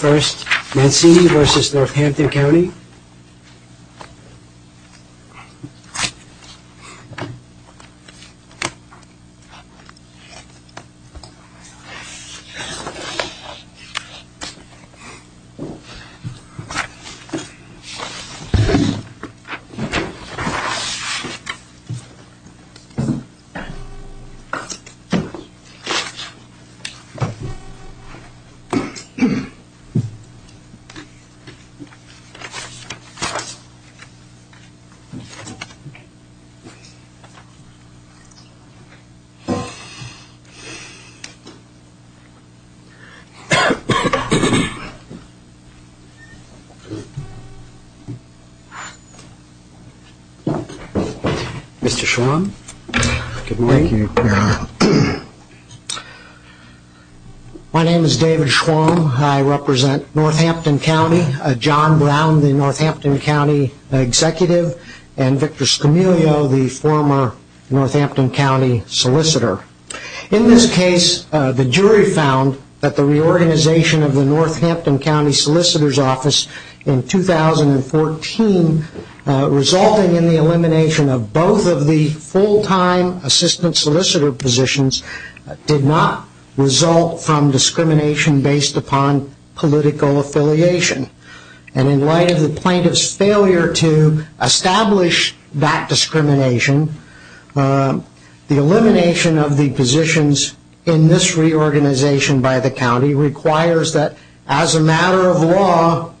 First, Mancini v. Northampton County Mr. Schwong, good morning. Thank you, Your Honor. My name is David Schwong. I represent Northampton County. John Brown, the Northampton County Executive, and Victor Scamilio, the former Northampton County Solicitor. In this case, the jury found that the reorganization of the Northampton County Solicitor's Office in 2014 resulting in the elimination of both of the full-time assistant solicitor positions did not result from discrimination based upon political affiliation. In light of the plaintiff's failure to establish that discrimination, the elimination of the positions in this reorganization by the county requires that, as a matter of law,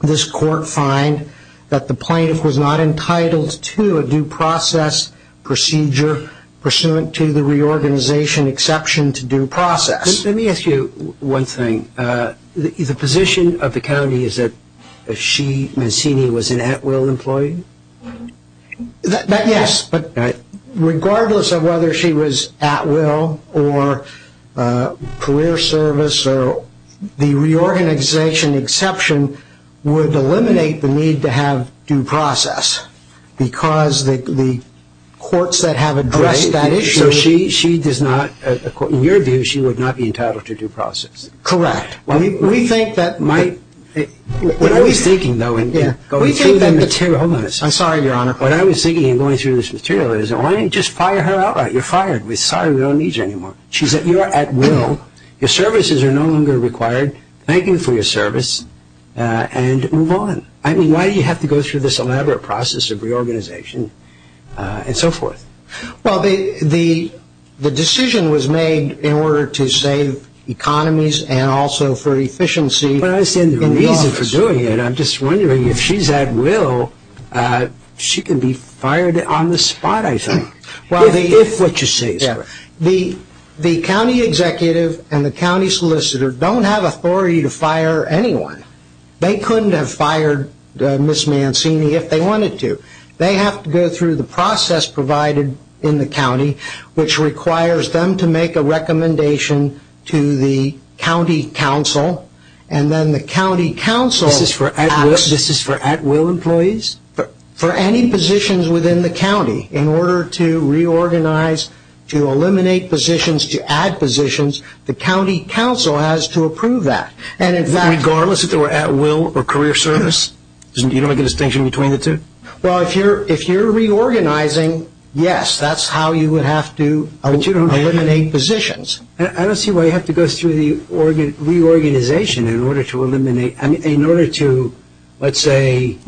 this court find that the plaintiff was not entitled to a due process procedure pursuant to the reorganization exception to due process. Let me ask you one thing. The position of the county is that she, Mancini, was an at-will employee? Yes, but regardless of whether she was at-will or career service, the reorganization exception would eliminate the need to have due process because the courts that have addressed that issue... So she does not, in your view, she would not be entitled to due process? Correct. We think that might... What I was thinking, though, in going through the material... I'm sorry, Your Honor. What I was thinking in going through this material is, why don't you just fire her outright? You're fired. We're sorry. We don't need you anymore. She said, you are at-will. Your services are no longer required. Thank you for your service and move on. I mean, why do you have to go through this elaborate process of reorganization and so forth? Well, the decision was made in order to save economies and also for efficiency... I'm just wondering, if she's at-will, she can be fired on the spot, I think, if what you say is correct. The county executive and the county solicitor don't have authority to fire anyone. They couldn't have fired Ms. Mancini if they wanted to. They have to go through the process provided in the county, which requires them to make a recommendation to the county council, and then the county council... This is for at-will employees? For any positions within the county. In order to reorganize, to eliminate positions, to add positions, the county council has to approve that. Regardless if they were at-will or career service? You don't make a distinction between the two? Well, if you're reorganizing, yes, that's how you would have to eliminate positions. I don't see why you have to go through the reorganization in order to eliminate... in order to, let's say,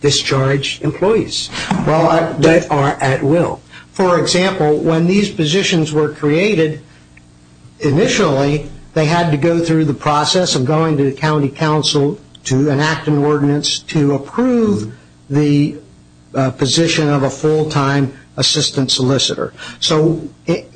discharge employees that are at-will. For example, when these positions were created, initially they had to go through the process of going to the county council to enact an ordinance to approve the position of a full-time assistant solicitor. So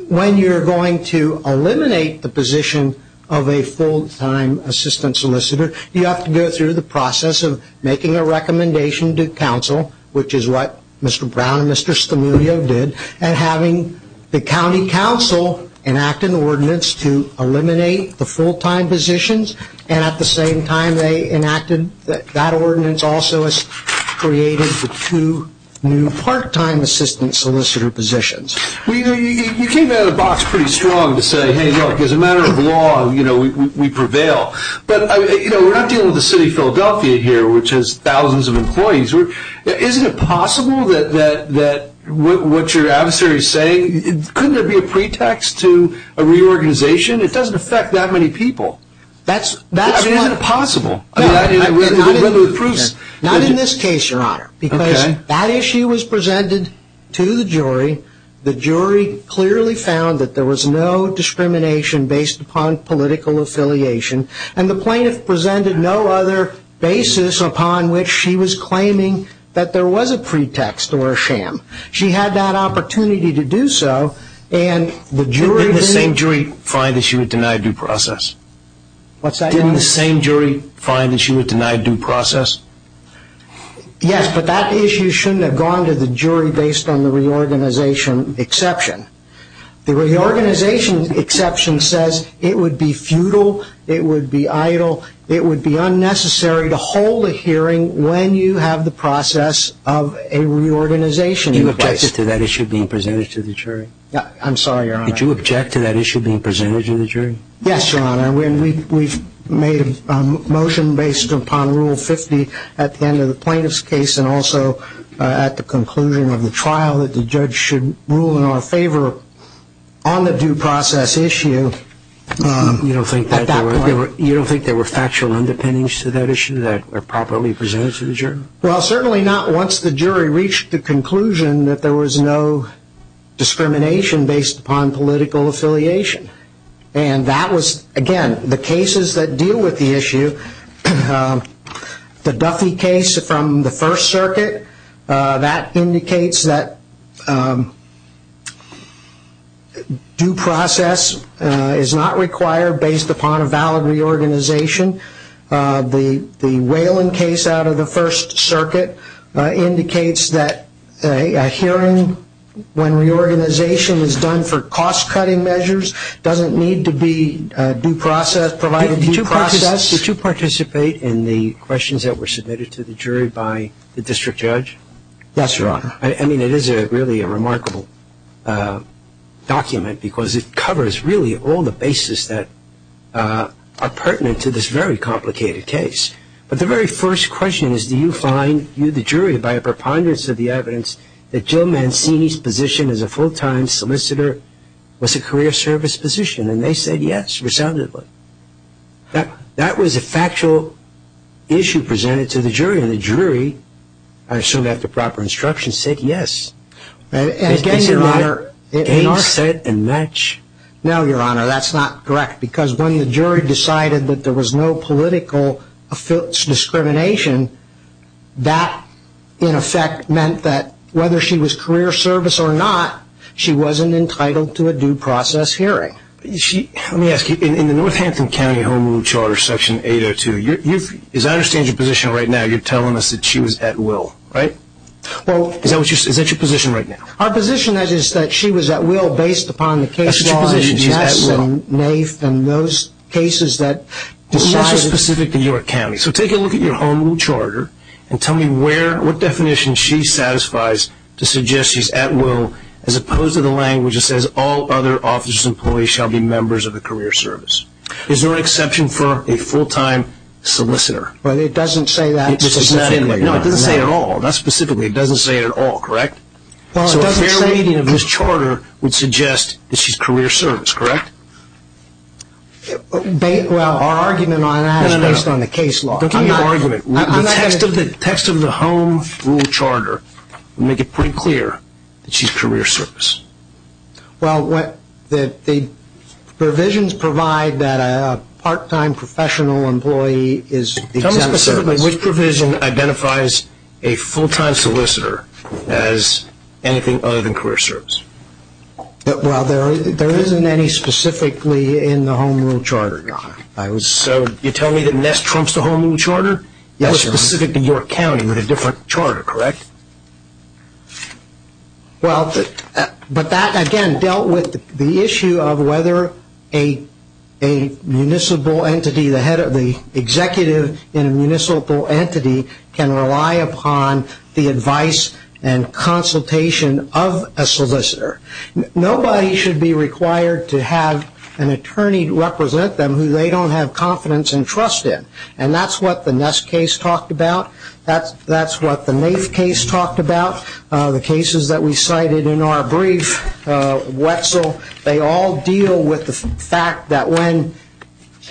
when you're going to eliminate the position of a full-time assistant solicitor, you have to go through the process of making a recommendation to council, which is what Mr. Brown and Mr. Stamilio did, and having the county council enact an ordinance to eliminate the full-time positions, and at the same time they enacted that ordinance also created the two new part-time assistant solicitor positions. You came out of the box pretty strong to say, hey, look, as a matter of law, we prevail. But we're not dealing with the city of Philadelphia here, which has thousands of employees. Isn't it possible that what your adversary is saying, couldn't there be a pretext to a reorganization? It doesn't affect that many people. Isn't it possible? Not in this case, Your Honor, because that issue was presented to the jury. The jury clearly found that there was no discrimination based upon political affiliation, and the plaintiff presented no other basis upon which she was claiming that there was a pretext or a sham. She had that opportunity to do so, and the jury didn't. Didn't the same jury find that she was denied due process? What's that? Didn't the same jury find that she was denied due process? Yes, but that issue shouldn't have gone to the jury based on the reorganization exception. The reorganization exception says it would be futile, it would be idle, it would be unnecessary to hold a hearing when you have the process of a reorganization in place. Did you object to that issue being presented to the jury? I'm sorry, Your Honor. Did you object to that issue being presented to the jury? Yes, Your Honor. We've made a motion based upon Rule 50 at the end of the plaintiff's case and also at the conclusion of the trial that the judge should rule in our favor on the due process issue. You don't think there were factual underpinnings to that issue that were properly presented to the jury? Well, certainly not once the jury reached the conclusion that there was no discrimination based upon political affiliation. And that was, again, the cases that deal with the issue, the Duffy case from the First Circuit, that indicates that due process is not required based upon a valid reorganization. The Whalen case out of the First Circuit indicates that a hearing when reorganization is done for cost-cutting measures doesn't need to be provided due process. Did you participate in the questions that were submitted to the jury by the district judge? Yes, Your Honor. I mean, it is really a remarkable document because it covers really all the bases that are pertinent to this very complicated case. But the very first question is, do you find you, the jury, by a preponderance of the evidence, that Jill Mancini's position as a full-time solicitor was a career service position? And they said yes, resoundingly. That was a factual issue presented to the jury. And the jury, I assume after proper instruction, said yes. And again, Your Honor... It's your honor, gain, set, and match. No, Your Honor, that's not correct. Because when the jury decided that there was no political discrimination, that, in effect, meant that whether she was career service or not, she wasn't entitled to a due process hearing. Let me ask you, in the Northampton County Home Rule Charter, Section 802, as I understand your position right now, you're telling us that she was at will, right? Well... Is that your position right now? Our position is that she was at will based upon the case laws... That's what your position is, she's at will. Yes, and NAIF and those cases that decided... What's so specific to your county? So take a look at your Home Rule Charter and tell me what definition she satisfies to suggest she's at will, as opposed to the language that says, all other office employees shall be members of a career service. Is there an exception for a full-time solicitor? Well, it doesn't say that specifically. No, it doesn't say it at all, not specifically. It doesn't say it at all, correct? So a fair reading of this charter would suggest that she's career service, correct? Well, our argument on that is based on the case law. Don't give me an argument. The text of the Home Rule Charter would make it pretty clear that she's career service. Well, the provisions provide that a part-time professional employee is exempt from service. Which provision identifies a full-time solicitor as anything other than career service? Well, there isn't any specifically in the Home Rule Charter, Your Honor. So you're telling me that NIST trumps the Home Rule Charter? Yes, Your Honor. Or specific to your county with a different charter, correct? Well, but that, again, dealt with the issue of whether a municipal entity, the executive in a municipal entity can rely upon the advice and consultation of a solicitor. Nobody should be required to have an attorney represent them who they don't have confidence and trust in. And that's what the NIST case talked about. That's what the NAIF case talked about. The cases that we cited in our brief, Wetzel, they all deal with the fact that when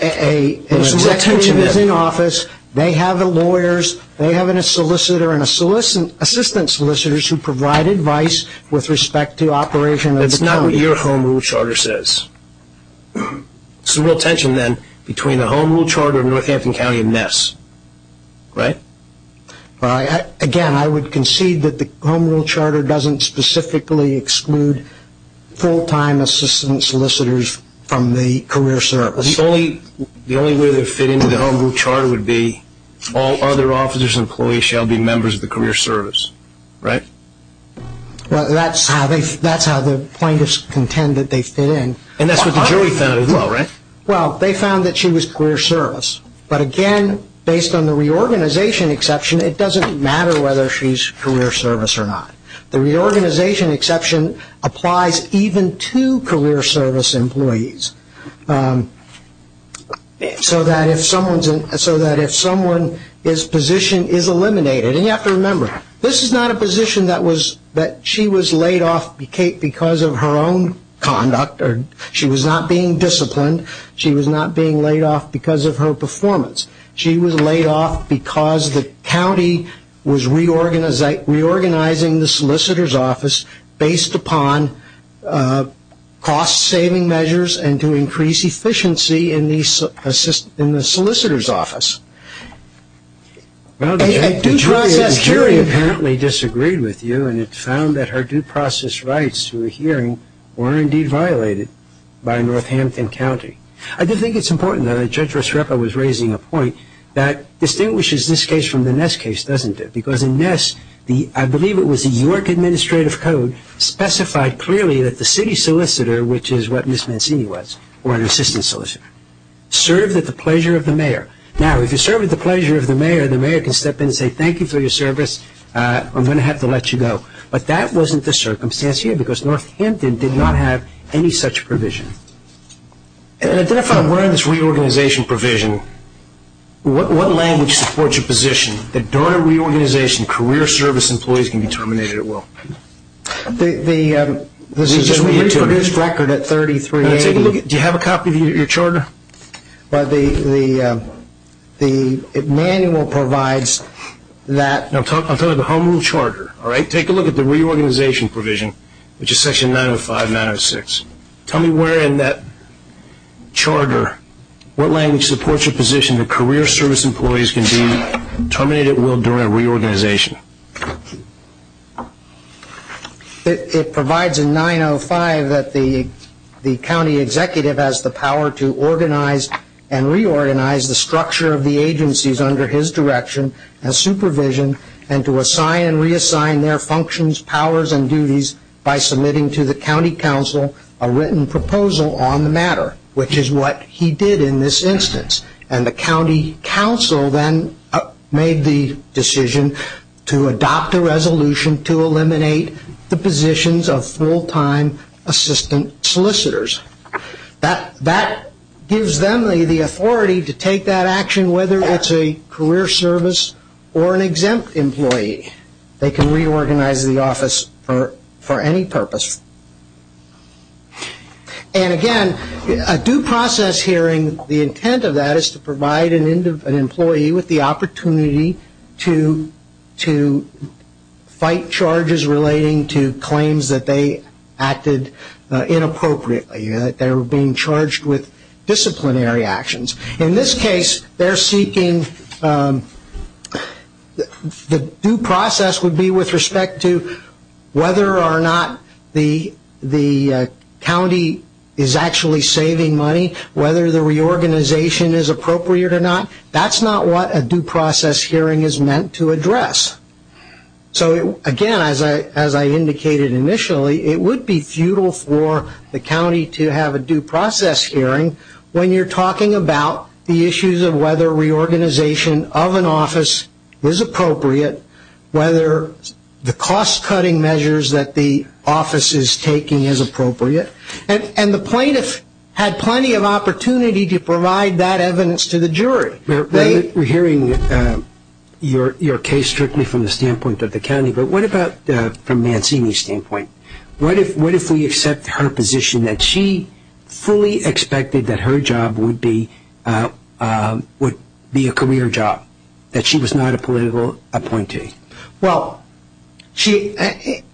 an executive is in office, they have lawyers, they have a solicitor and assistant solicitors who provide advice with respect to operation of the county. That's not what your Home Rule Charter says. So we'll tension then between the Home Rule Charter and Northampton County and NIST, right? Again, I would concede that the Home Rule Charter doesn't specifically exclude full-time assistant solicitors from the career service. The only way they would fit into the Home Rule Charter would be, all other officers and employees shall be members of the career service, right? Well, that's how the plaintiffs contend that they fit in. And that's what the jury found as well, right? Well, they found that she was career service. But again, based on the reorganization exception, it doesn't matter whether she's career service or not. The reorganization exception applies even to career service employees, so that if someone's position is eliminated. And you have to remember, this is not a position that she was laid off because of her own conduct. She was not being disciplined. She was not being laid off because of her performance. She was laid off because the county was reorganizing the solicitor's office based upon cost-saving measures and to increase efficiency in the solicitor's office. Well, the jury apparently disagreed with you, and it found that her due process rights to a hearing were indeed violated by Northampton County. I do think it's important, though, that Judge Rusrepo was raising a point that distinguishes this case from the Ness case, doesn't it? Because in Ness, I believe it was the York Administrative Code specified clearly that the city solicitor, which is what Ms. Mancini was, or an assistant solicitor, served at the pleasure of the mayor. Now, if you served at the pleasure of the mayor, the mayor can step in and say, thank you for your service, I'm going to have to let you go. But that wasn't the circumstance here because Northampton did not have any such provision. Identify where in this reorganization provision, what language supports your position that during a reorganization, career service employees can be terminated at will? This is a reproduced record at 3380. Do you have a copy of your charter? The manual provides that. I'll tell you the home rule charter. Take a look at the reorganization provision, which is section 905 and 906. Tell me where in that charter, what language supports your position that career service employees can be terminated at will during a reorganization? It provides in 905 that the county executive has the power to organize and reorganize the structure of the agencies under his direction as supervision and to assign and reassign their functions, powers, and duties by submitting to the county council a written proposal on the matter, which is what he did in this instance. And the county council then made the decision to adopt a resolution to eliminate the positions of full-time assistant solicitors. That gives them the authority to take that action, whether it's a career service or an exempt employee. They can reorganize the office for any purpose. And again, a due process hearing, the intent of that is to provide an employee with the opportunity to fight charges relating to claims that they acted inappropriately, that they were being charged with disciplinary actions. In this case, they're seeking, the due process would be with respect to whether or not the county is actually saving money, whether the reorganization is appropriate or not. That's not what a due process hearing is meant to address. Again, as I indicated initially, it would be futile for the county to have a due process hearing when you're talking about the issues of whether reorganization of an office is appropriate, whether the cost-cutting measures that the office is taking is appropriate. And the plaintiff had plenty of opportunity to provide that evidence to the jury. We're hearing your case strictly from the standpoint of the county. But what about from Mancini's standpoint? What if we accept her position that she fully expected that her job would be a career job, that she was not a political appointee? Well,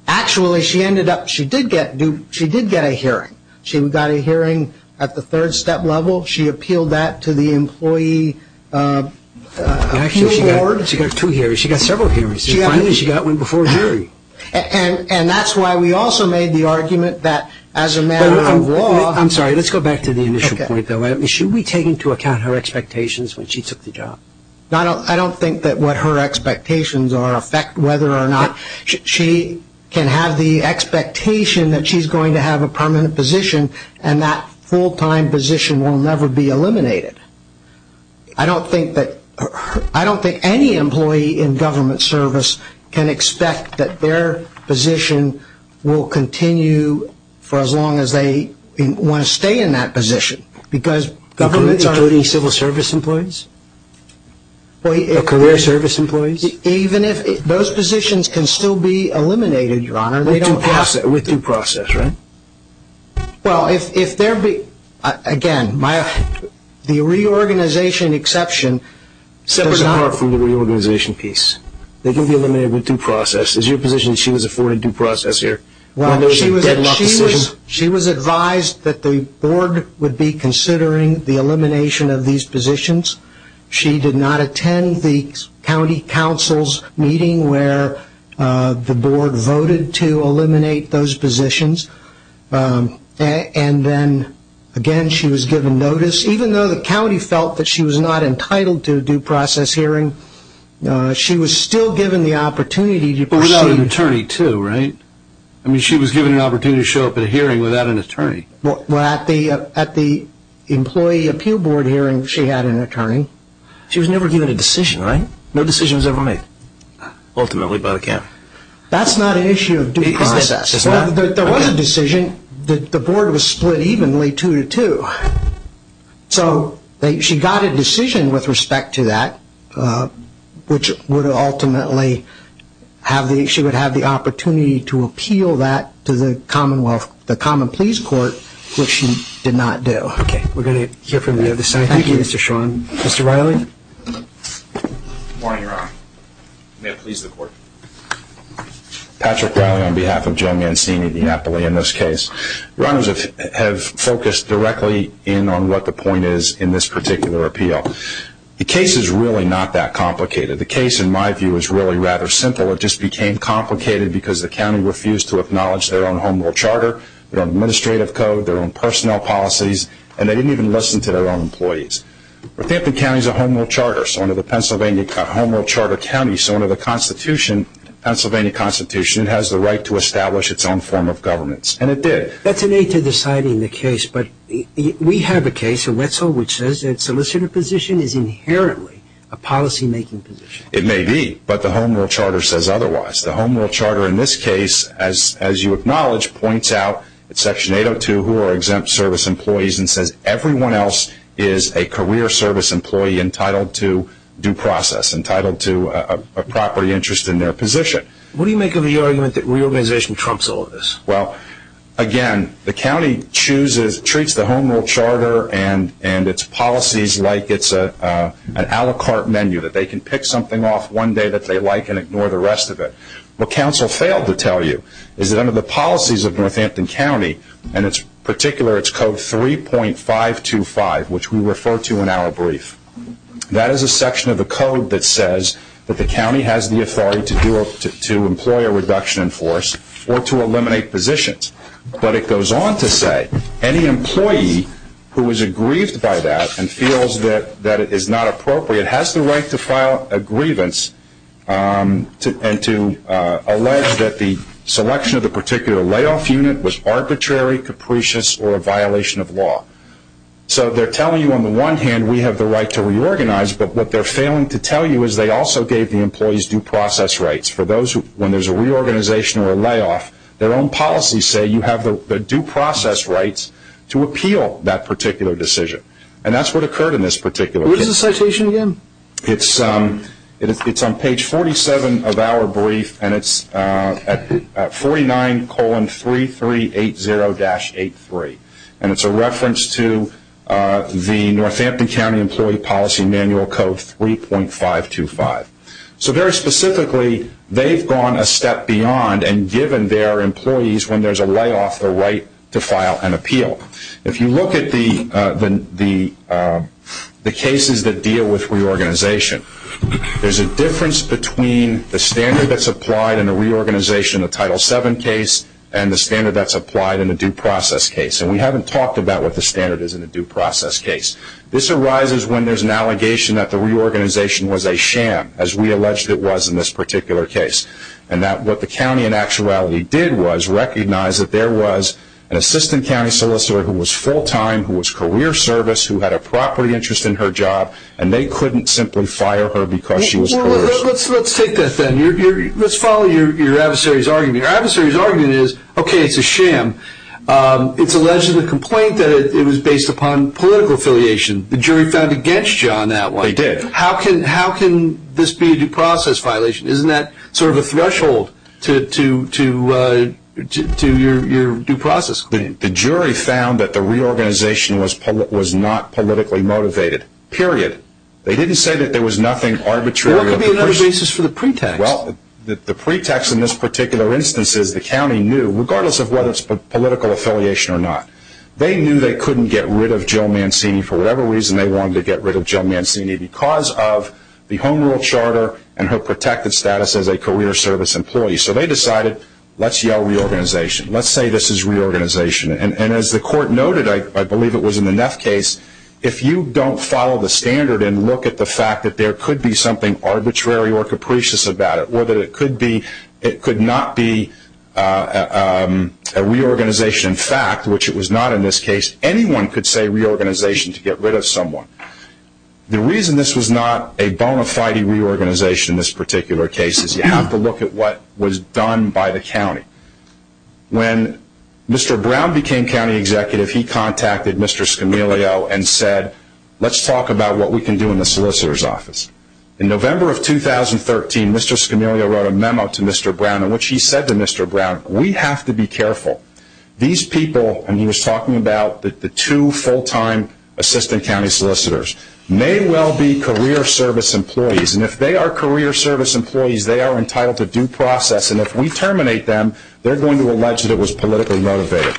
actually, she did get a hearing. She got a hearing at the third-step level. She appealed that to the employee appeal board. Actually, she got two hearings. She got several hearings. Finally, she got one before a jury. And that's why we also made the argument that as a matter of law – I'm sorry. Let's go back to the initial point, though. Should we take into account her expectations when she took the job? I don't think that what her expectations are affect whether or not she can have the expectation that she's going to have a permanent position and that full-time position will never be eliminated. I don't think any employee in government service can expect that their position will continue for as long as they want to stay in that position because governments are – Government, including civil service employees? Career service employees? Even if – those positions can still be eliminated, Your Honor. With due process, right? Well, if there be – again, the reorganization exception – Separate from the reorganization piece. They can be eliminated with due process. Is your position that she was afforded due process here? She was advised that the board would be considering the elimination of these positions. She did not attend the county council's meeting where the board voted to eliminate those positions. And then, again, she was given notice. Even though the county felt that she was not entitled to a due process hearing, she was still given the opportunity to proceed. She had an attorney, too, right? I mean, she was given an opportunity to show up at a hearing without an attorney. Well, at the employee appeal board hearing, she had an attorney. She was never given a decision, right? No decision was ever made. Ultimately by the county. That's not an issue of due process. There was a decision. The board was split evenly two to two. So she got a decision with respect to that, which would ultimately have the opportunity to appeal that to the Commonwealth, the Common Pleas Court, which she did not do. Okay. We're going to hear from the other side. Thank you, Mr. Sean. Mr. Riley? Good morning, Your Honor. May it please the Court. Patrick Riley on behalf of Joe Mancini of the Napoli in this case. Your Honors, I have focused directly in on what the point is in this particular appeal. The case is really not that complicated. The case, in my view, is really rather simple. It just became complicated because the county refused to acknowledge their own home rule charter, their own administrative code, their own personnel policies, and they didn't even listen to their own employees. Redampton County is a home rule charter. So under the Pennsylvania home rule charter county, so under the Pennsylvania Constitution, it has the right to establish its own form of governance. And it did. That's an aid to deciding the case. But we have a case in Wetzel which says that solicitor position is inherently a policymaking position. It may be, but the home rule charter says otherwise. The home rule charter in this case, as you acknowledge, points out in Section 802 who are exempt service employees and says everyone else is a career service employee entitled to due process, entitled to a property interest in their position. What do you make of the argument that reorganization trumps all of this? Well, again, the county chooses, treats the home rule charter and its policies like it's an a la carte menu, that they can pick something off one day that they like and ignore the rest of it. What council failed to tell you is that under the policies of Northampton County, and in particular its Code 3.525, which we refer to in our brief, that is a section of the code that says that the county has the authority to employ a reduction in force or to eliminate positions. But it goes on to say any employee who is aggrieved by that and feels that it is not appropriate has the right to file a grievance and to allege that the selection of the particular layoff unit was arbitrary, capricious, or a violation of law. So they're telling you on the one hand we have the right to reorganize, but what they're failing to tell you is they also gave the employees due process rights. For those when there's a reorganization or a layoff, their own policies say you have the due process rights to appeal that particular decision. And that's what occurred in this particular case. What is the citation again? It's on page 47 of our brief, and it's at 49,3380-83. And it's a reference to the Northampton County Employee Policy Manual Code 3.525. So very specifically, they've gone a step beyond and given their employees when there's a layoff the right to file an appeal. If you look at the cases that deal with reorganization, there's a difference between the standard that's applied in a reorganization, a Title VII case, and the standard that's applied in a due process case. And we haven't talked about what the standard is in a due process case. This arises when there's an allegation that the reorganization was a sham, as we alleged it was in this particular case, and that what the county in actuality did was recognize that there was an assistant county solicitor who was full-time, who was career service, who had a property interest in her job, and they couldn't simply fire her because she was career service. Let's take that then. Let's follow your adversary's argument. Your adversary's argument is, okay, it's a sham. It's alleged in the complaint that it was based upon political affiliation. The jury found against you on that one. They did. How can this be a due process violation? Isn't that sort of a threshold to your due process claim? The jury found that the reorganization was not politically motivated, period. They didn't say that there was nothing arbitrary. What could be another basis for the pretext? Well, the pretext in this particular instance is the county knew, regardless of whether it's political affiliation or not, they knew they couldn't get rid of Jill Mancini for whatever reason they wanted to get rid of Jill Mancini because of the Home Rule Charter and her protected status as a career service employee. So they decided, let's yell reorganization. Let's say this is reorganization. And as the court noted, I believe it was in the Neff case, if you don't follow the standard and look at the fact that there could be something arbitrary or capricious about it or that it could not be a reorganization in fact, which it was not in this case, anyone could say reorganization to get rid of someone. The reason this was not a bona fide reorganization in this particular case is you have to look at what was done by the county. When Mr. Brown became county executive, he contacted Mr. Scamilio and said, let's talk about what we can do in the solicitor's office. In November of 2013, Mr. Scamilio wrote a memo to Mr. Brown in which he said to Mr. Brown, we have to be careful. These people, and he was talking about the two full-time assistant county solicitors, may well be career service employees. And if they are career service employees, they are entitled to due process. And if we terminate them, they are going to allege that it was politically motivated.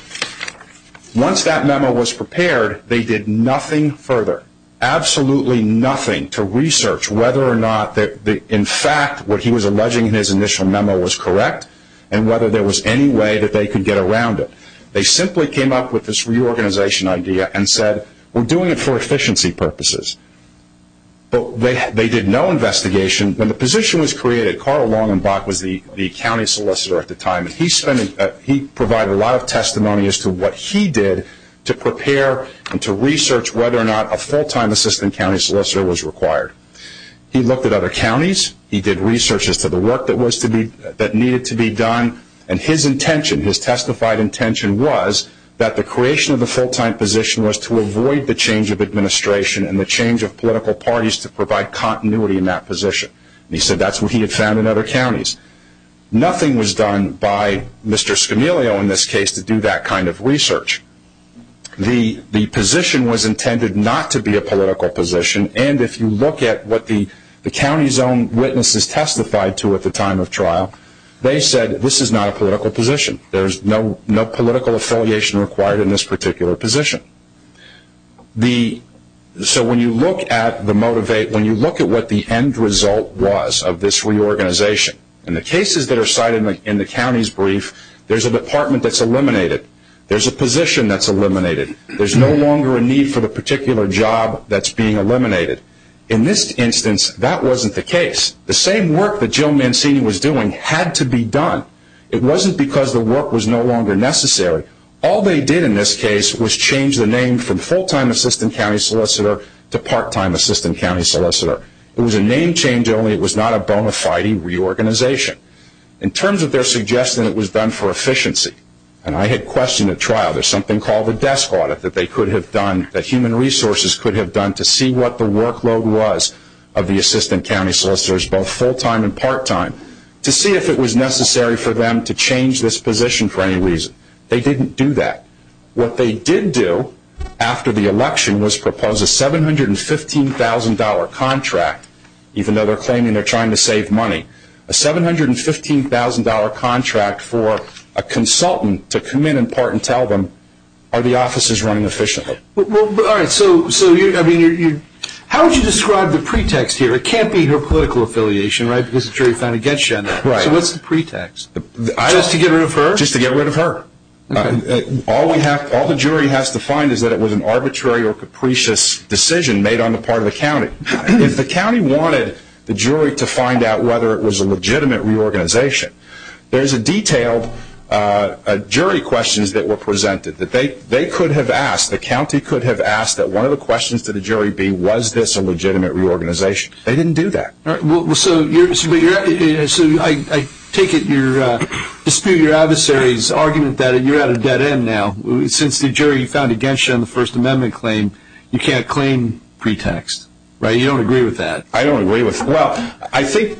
Once that memo was prepared, they did nothing further, absolutely nothing to research whether or not in fact what he was alleging in his initial memo was correct and whether there was any way that they could get around it. They simply came up with this reorganization idea and said, we are doing it for efficiency purposes. They did no investigation. When the position was created, Carl Longenbach was the county solicitor at the time. He provided a lot of testimony as to what he did to prepare and to research whether or not a full-time assistant county solicitor was required. He looked at other counties. He did research as to the work that needed to be done. And his intention, his testified intention, was that the creation of the full-time position was to avoid the change of administration and the change of political parties to provide continuity in that position. He said that is what he had found in other counties. Nothing was done by Mr. Scamilio in this case to do that kind of research. The position was intended not to be a political position, and if you look at what the county's own witnesses testified to at the time of trial, they said this is not a political position. There is no political affiliation required in this particular position. So when you look at what the end result was of this reorganization, in the cases that are cited in the county's brief, there is a department that is eliminated. There is a position that is eliminated. There is no longer a need for the particular job that is being eliminated. In this instance, that wasn't the case. The same work that Joe Mancini was doing had to be done. It wasn't because the work was no longer necessary. All they did in this case was change the name from full-time assistant county solicitor to part-time assistant county solicitor. It was a name change, only it was not a bona fide reorganization. In terms of their suggestion that it was done for efficiency, and I had questioned at trial, there is something called a desk audit that they could have done, that human resources could have done to see what the workload was of the assistant county solicitors, both full-time and part-time, to see if it was necessary for them to change this position for any reason. They didn't do that. What they did do after the election was propose a $715,000 contract, even though they are claiming they are trying to save money, a $715,000 contract for a consultant to come in and part and tell them, are the offices running efficiently? How would you describe the pretext here? It can't be her political affiliation, right, because the jury found against you on that. So what is the pretext? Just to get rid of her? Just to get rid of her. All the jury has to find is that it was an arbitrary or capricious decision made on the part of the county. If the county wanted the jury to find out whether it was a legitimate reorganization, there is a detailed jury questions that were presented that they could have asked, the county could have asked that one of the questions to the jury be, was this a legitimate reorganization? They didn't do that. So I take it you're disputing your adversary's argument that you're at a dead end now. Since the jury found against you on the First Amendment claim, you can't claim pretext, right? You don't agree with that? I don't agree with that. Well, I think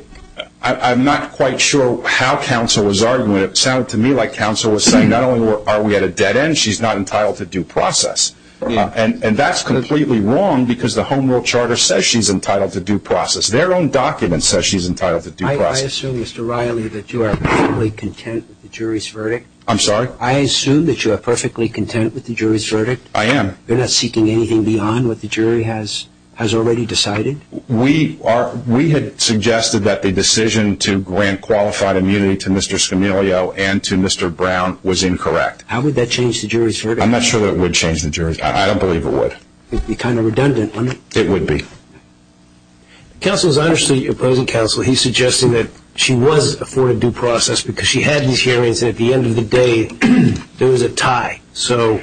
I'm not quite sure how counsel was arguing. It sounded to me like counsel was saying not only are we at a dead end, she's not entitled to due process. And that's completely wrong because the Home Rule Charter says she's entitled to due process. Their own document says she's entitled to due process. I assume, Mr. Riley, that you are perfectly content with the jury's verdict. I'm sorry? I assume that you are perfectly content with the jury's verdict. I am. You're not seeking anything beyond what the jury has already decided? We had suggested that the decision to grant qualified immunity to Mr. Scamilio and to Mr. Brown was incorrect. How would that change the jury's verdict? I'm not sure that it would change the jury's verdict. I don't believe it would. It would be kind of redundant, wouldn't it? It would be. Counsel, as I understood your opposing counsel, he's suggesting that she was afforded due process because she had these hearings and at the end of the day there was a tie. So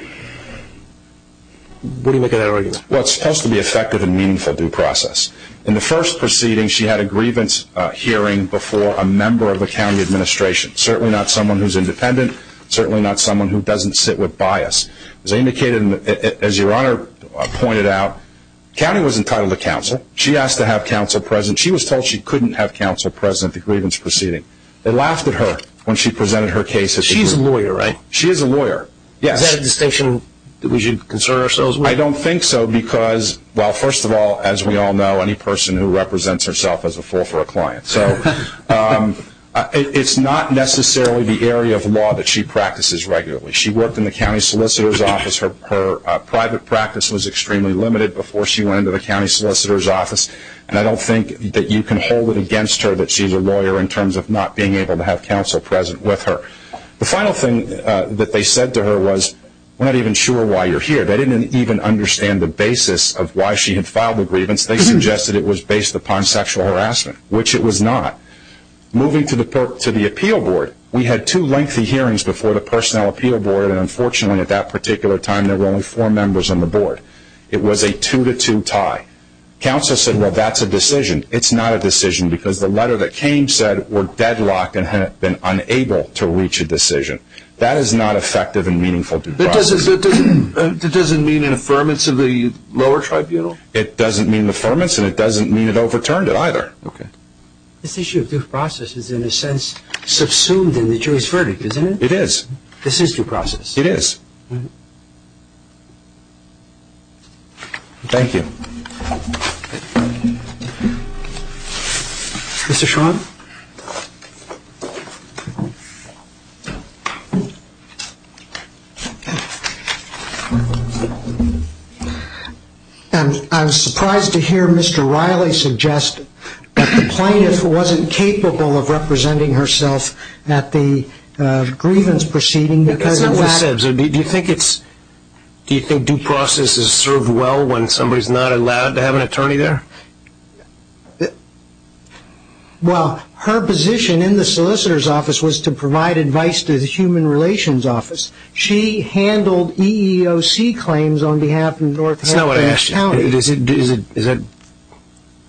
what do you make of that argument? Well, it's supposed to be effective and meaningful due process. In the first proceeding, she had a grievance hearing before a member of the county administration, certainly not someone who's independent, certainly not someone who doesn't sit with bias. As your Honor pointed out, the county was entitled to counsel. She asked to have counsel present. She was told she couldn't have counsel present at the grievance proceeding. They laughed at her when she presented her case. She's a lawyer, right? She is a lawyer, yes. Is that a distinction that we should concern ourselves with? I don't think so because, well, first of all, as we all know, any person who represents herself is a fool for a client. So it's not necessarily the area of law that she practices regularly. She worked in the county solicitor's office. Her private practice was extremely limited before she went into the county solicitor's office, and I don't think that you can hold it against her that she's a lawyer in terms of not being able to have counsel present with her. The final thing that they said to her was, we're not even sure why you're here. They didn't even understand the basis of why she had filed the grievance. They suggested it was based upon sexual harassment, which it was not. Moving to the appeal board, we had two lengthy hearings before the personnel appeal board, and unfortunately at that particular time there were only four members on the board. It was a two-to-two tie. Counsel said, well, that's a decision. It's not a decision because the letter that came said we're deadlocked and have been unable to reach a decision. That is not effective and meaningful due process. That doesn't mean an affirmance of the lower tribunal? This issue of due process is in a sense subsumed in the jury's verdict, isn't it? It is. This is due process? It is. Thank you. Mr. Schwan? I'm surprised to hear Mr. Riley suggest that the plaintiff wasn't capable of representing herself at the grievance proceeding because of that. That's not what it says. Do you think due process is served well when somebody is not allowed to have an attorney there? Well, her position in the solicitor's office was to provide advice to the human relations office. She handled EEOC claims on behalf of North Carolina County. Is that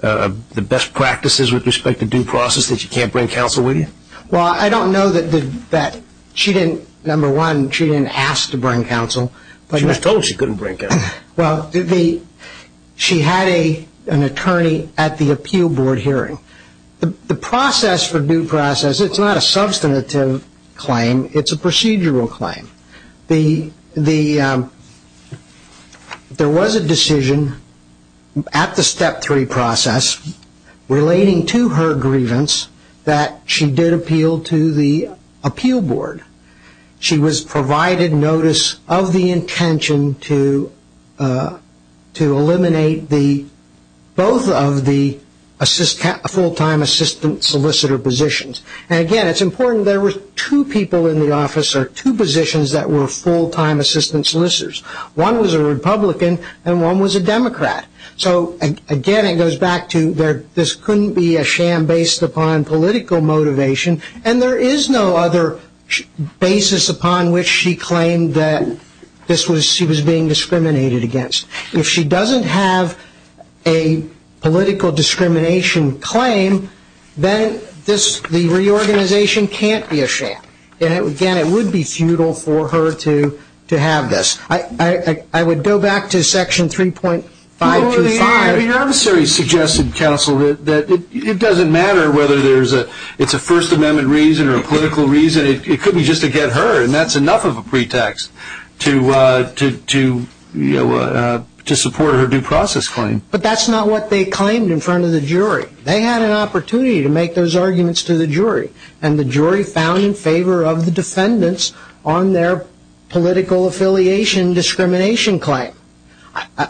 the best practices with respect to due process that you can't bring counsel with you? Well, I don't know that she didn't, number one, she didn't have to bring counsel. She was told she couldn't bring counsel. Well, she had an attorney at the appeal board hearing. The process for due process, it's not a substantive claim. It's a procedural claim. There was a decision at the step three process relating to her grievance that she did appeal to the appeal board. She was provided notice of the intention to eliminate both of the full-time assistant solicitor positions. Again, it's important there were two people in the office or two positions that were full-time assistant solicitors. One was a Republican and one was a Democrat. Again, it goes back to this couldn't be a sham based upon political motivation and there is no other basis upon which she claimed that she was being discriminated against. If she doesn't have a political discrimination claim, then the reorganization can't be a sham. Again, it would be futile for her to have this. I would go back to section 3.525. Your adversary suggested, counsel, that it doesn't matter whether it's a First Amendment reason or a political reason. It could be just to get her and that's enough of a pretext to support her due process claim. But that's not what they claimed in front of the jury. They had an opportunity to make those arguments to the jury and the jury found in favor of the defendants on their political affiliation discrimination claim.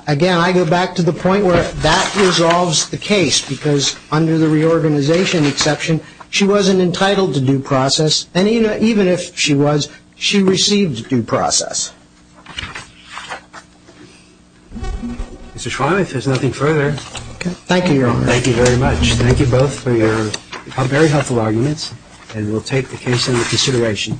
Again, I go back to the point where that resolves the case because under the reorganization exception, she wasn't entitled to due process and even if she was, she received due process. Mr. Schwamm, if there's nothing further. Thank you, Your Honor. Thank you very much. Thank you both for your very helpful arguments and we'll take the case into consideration.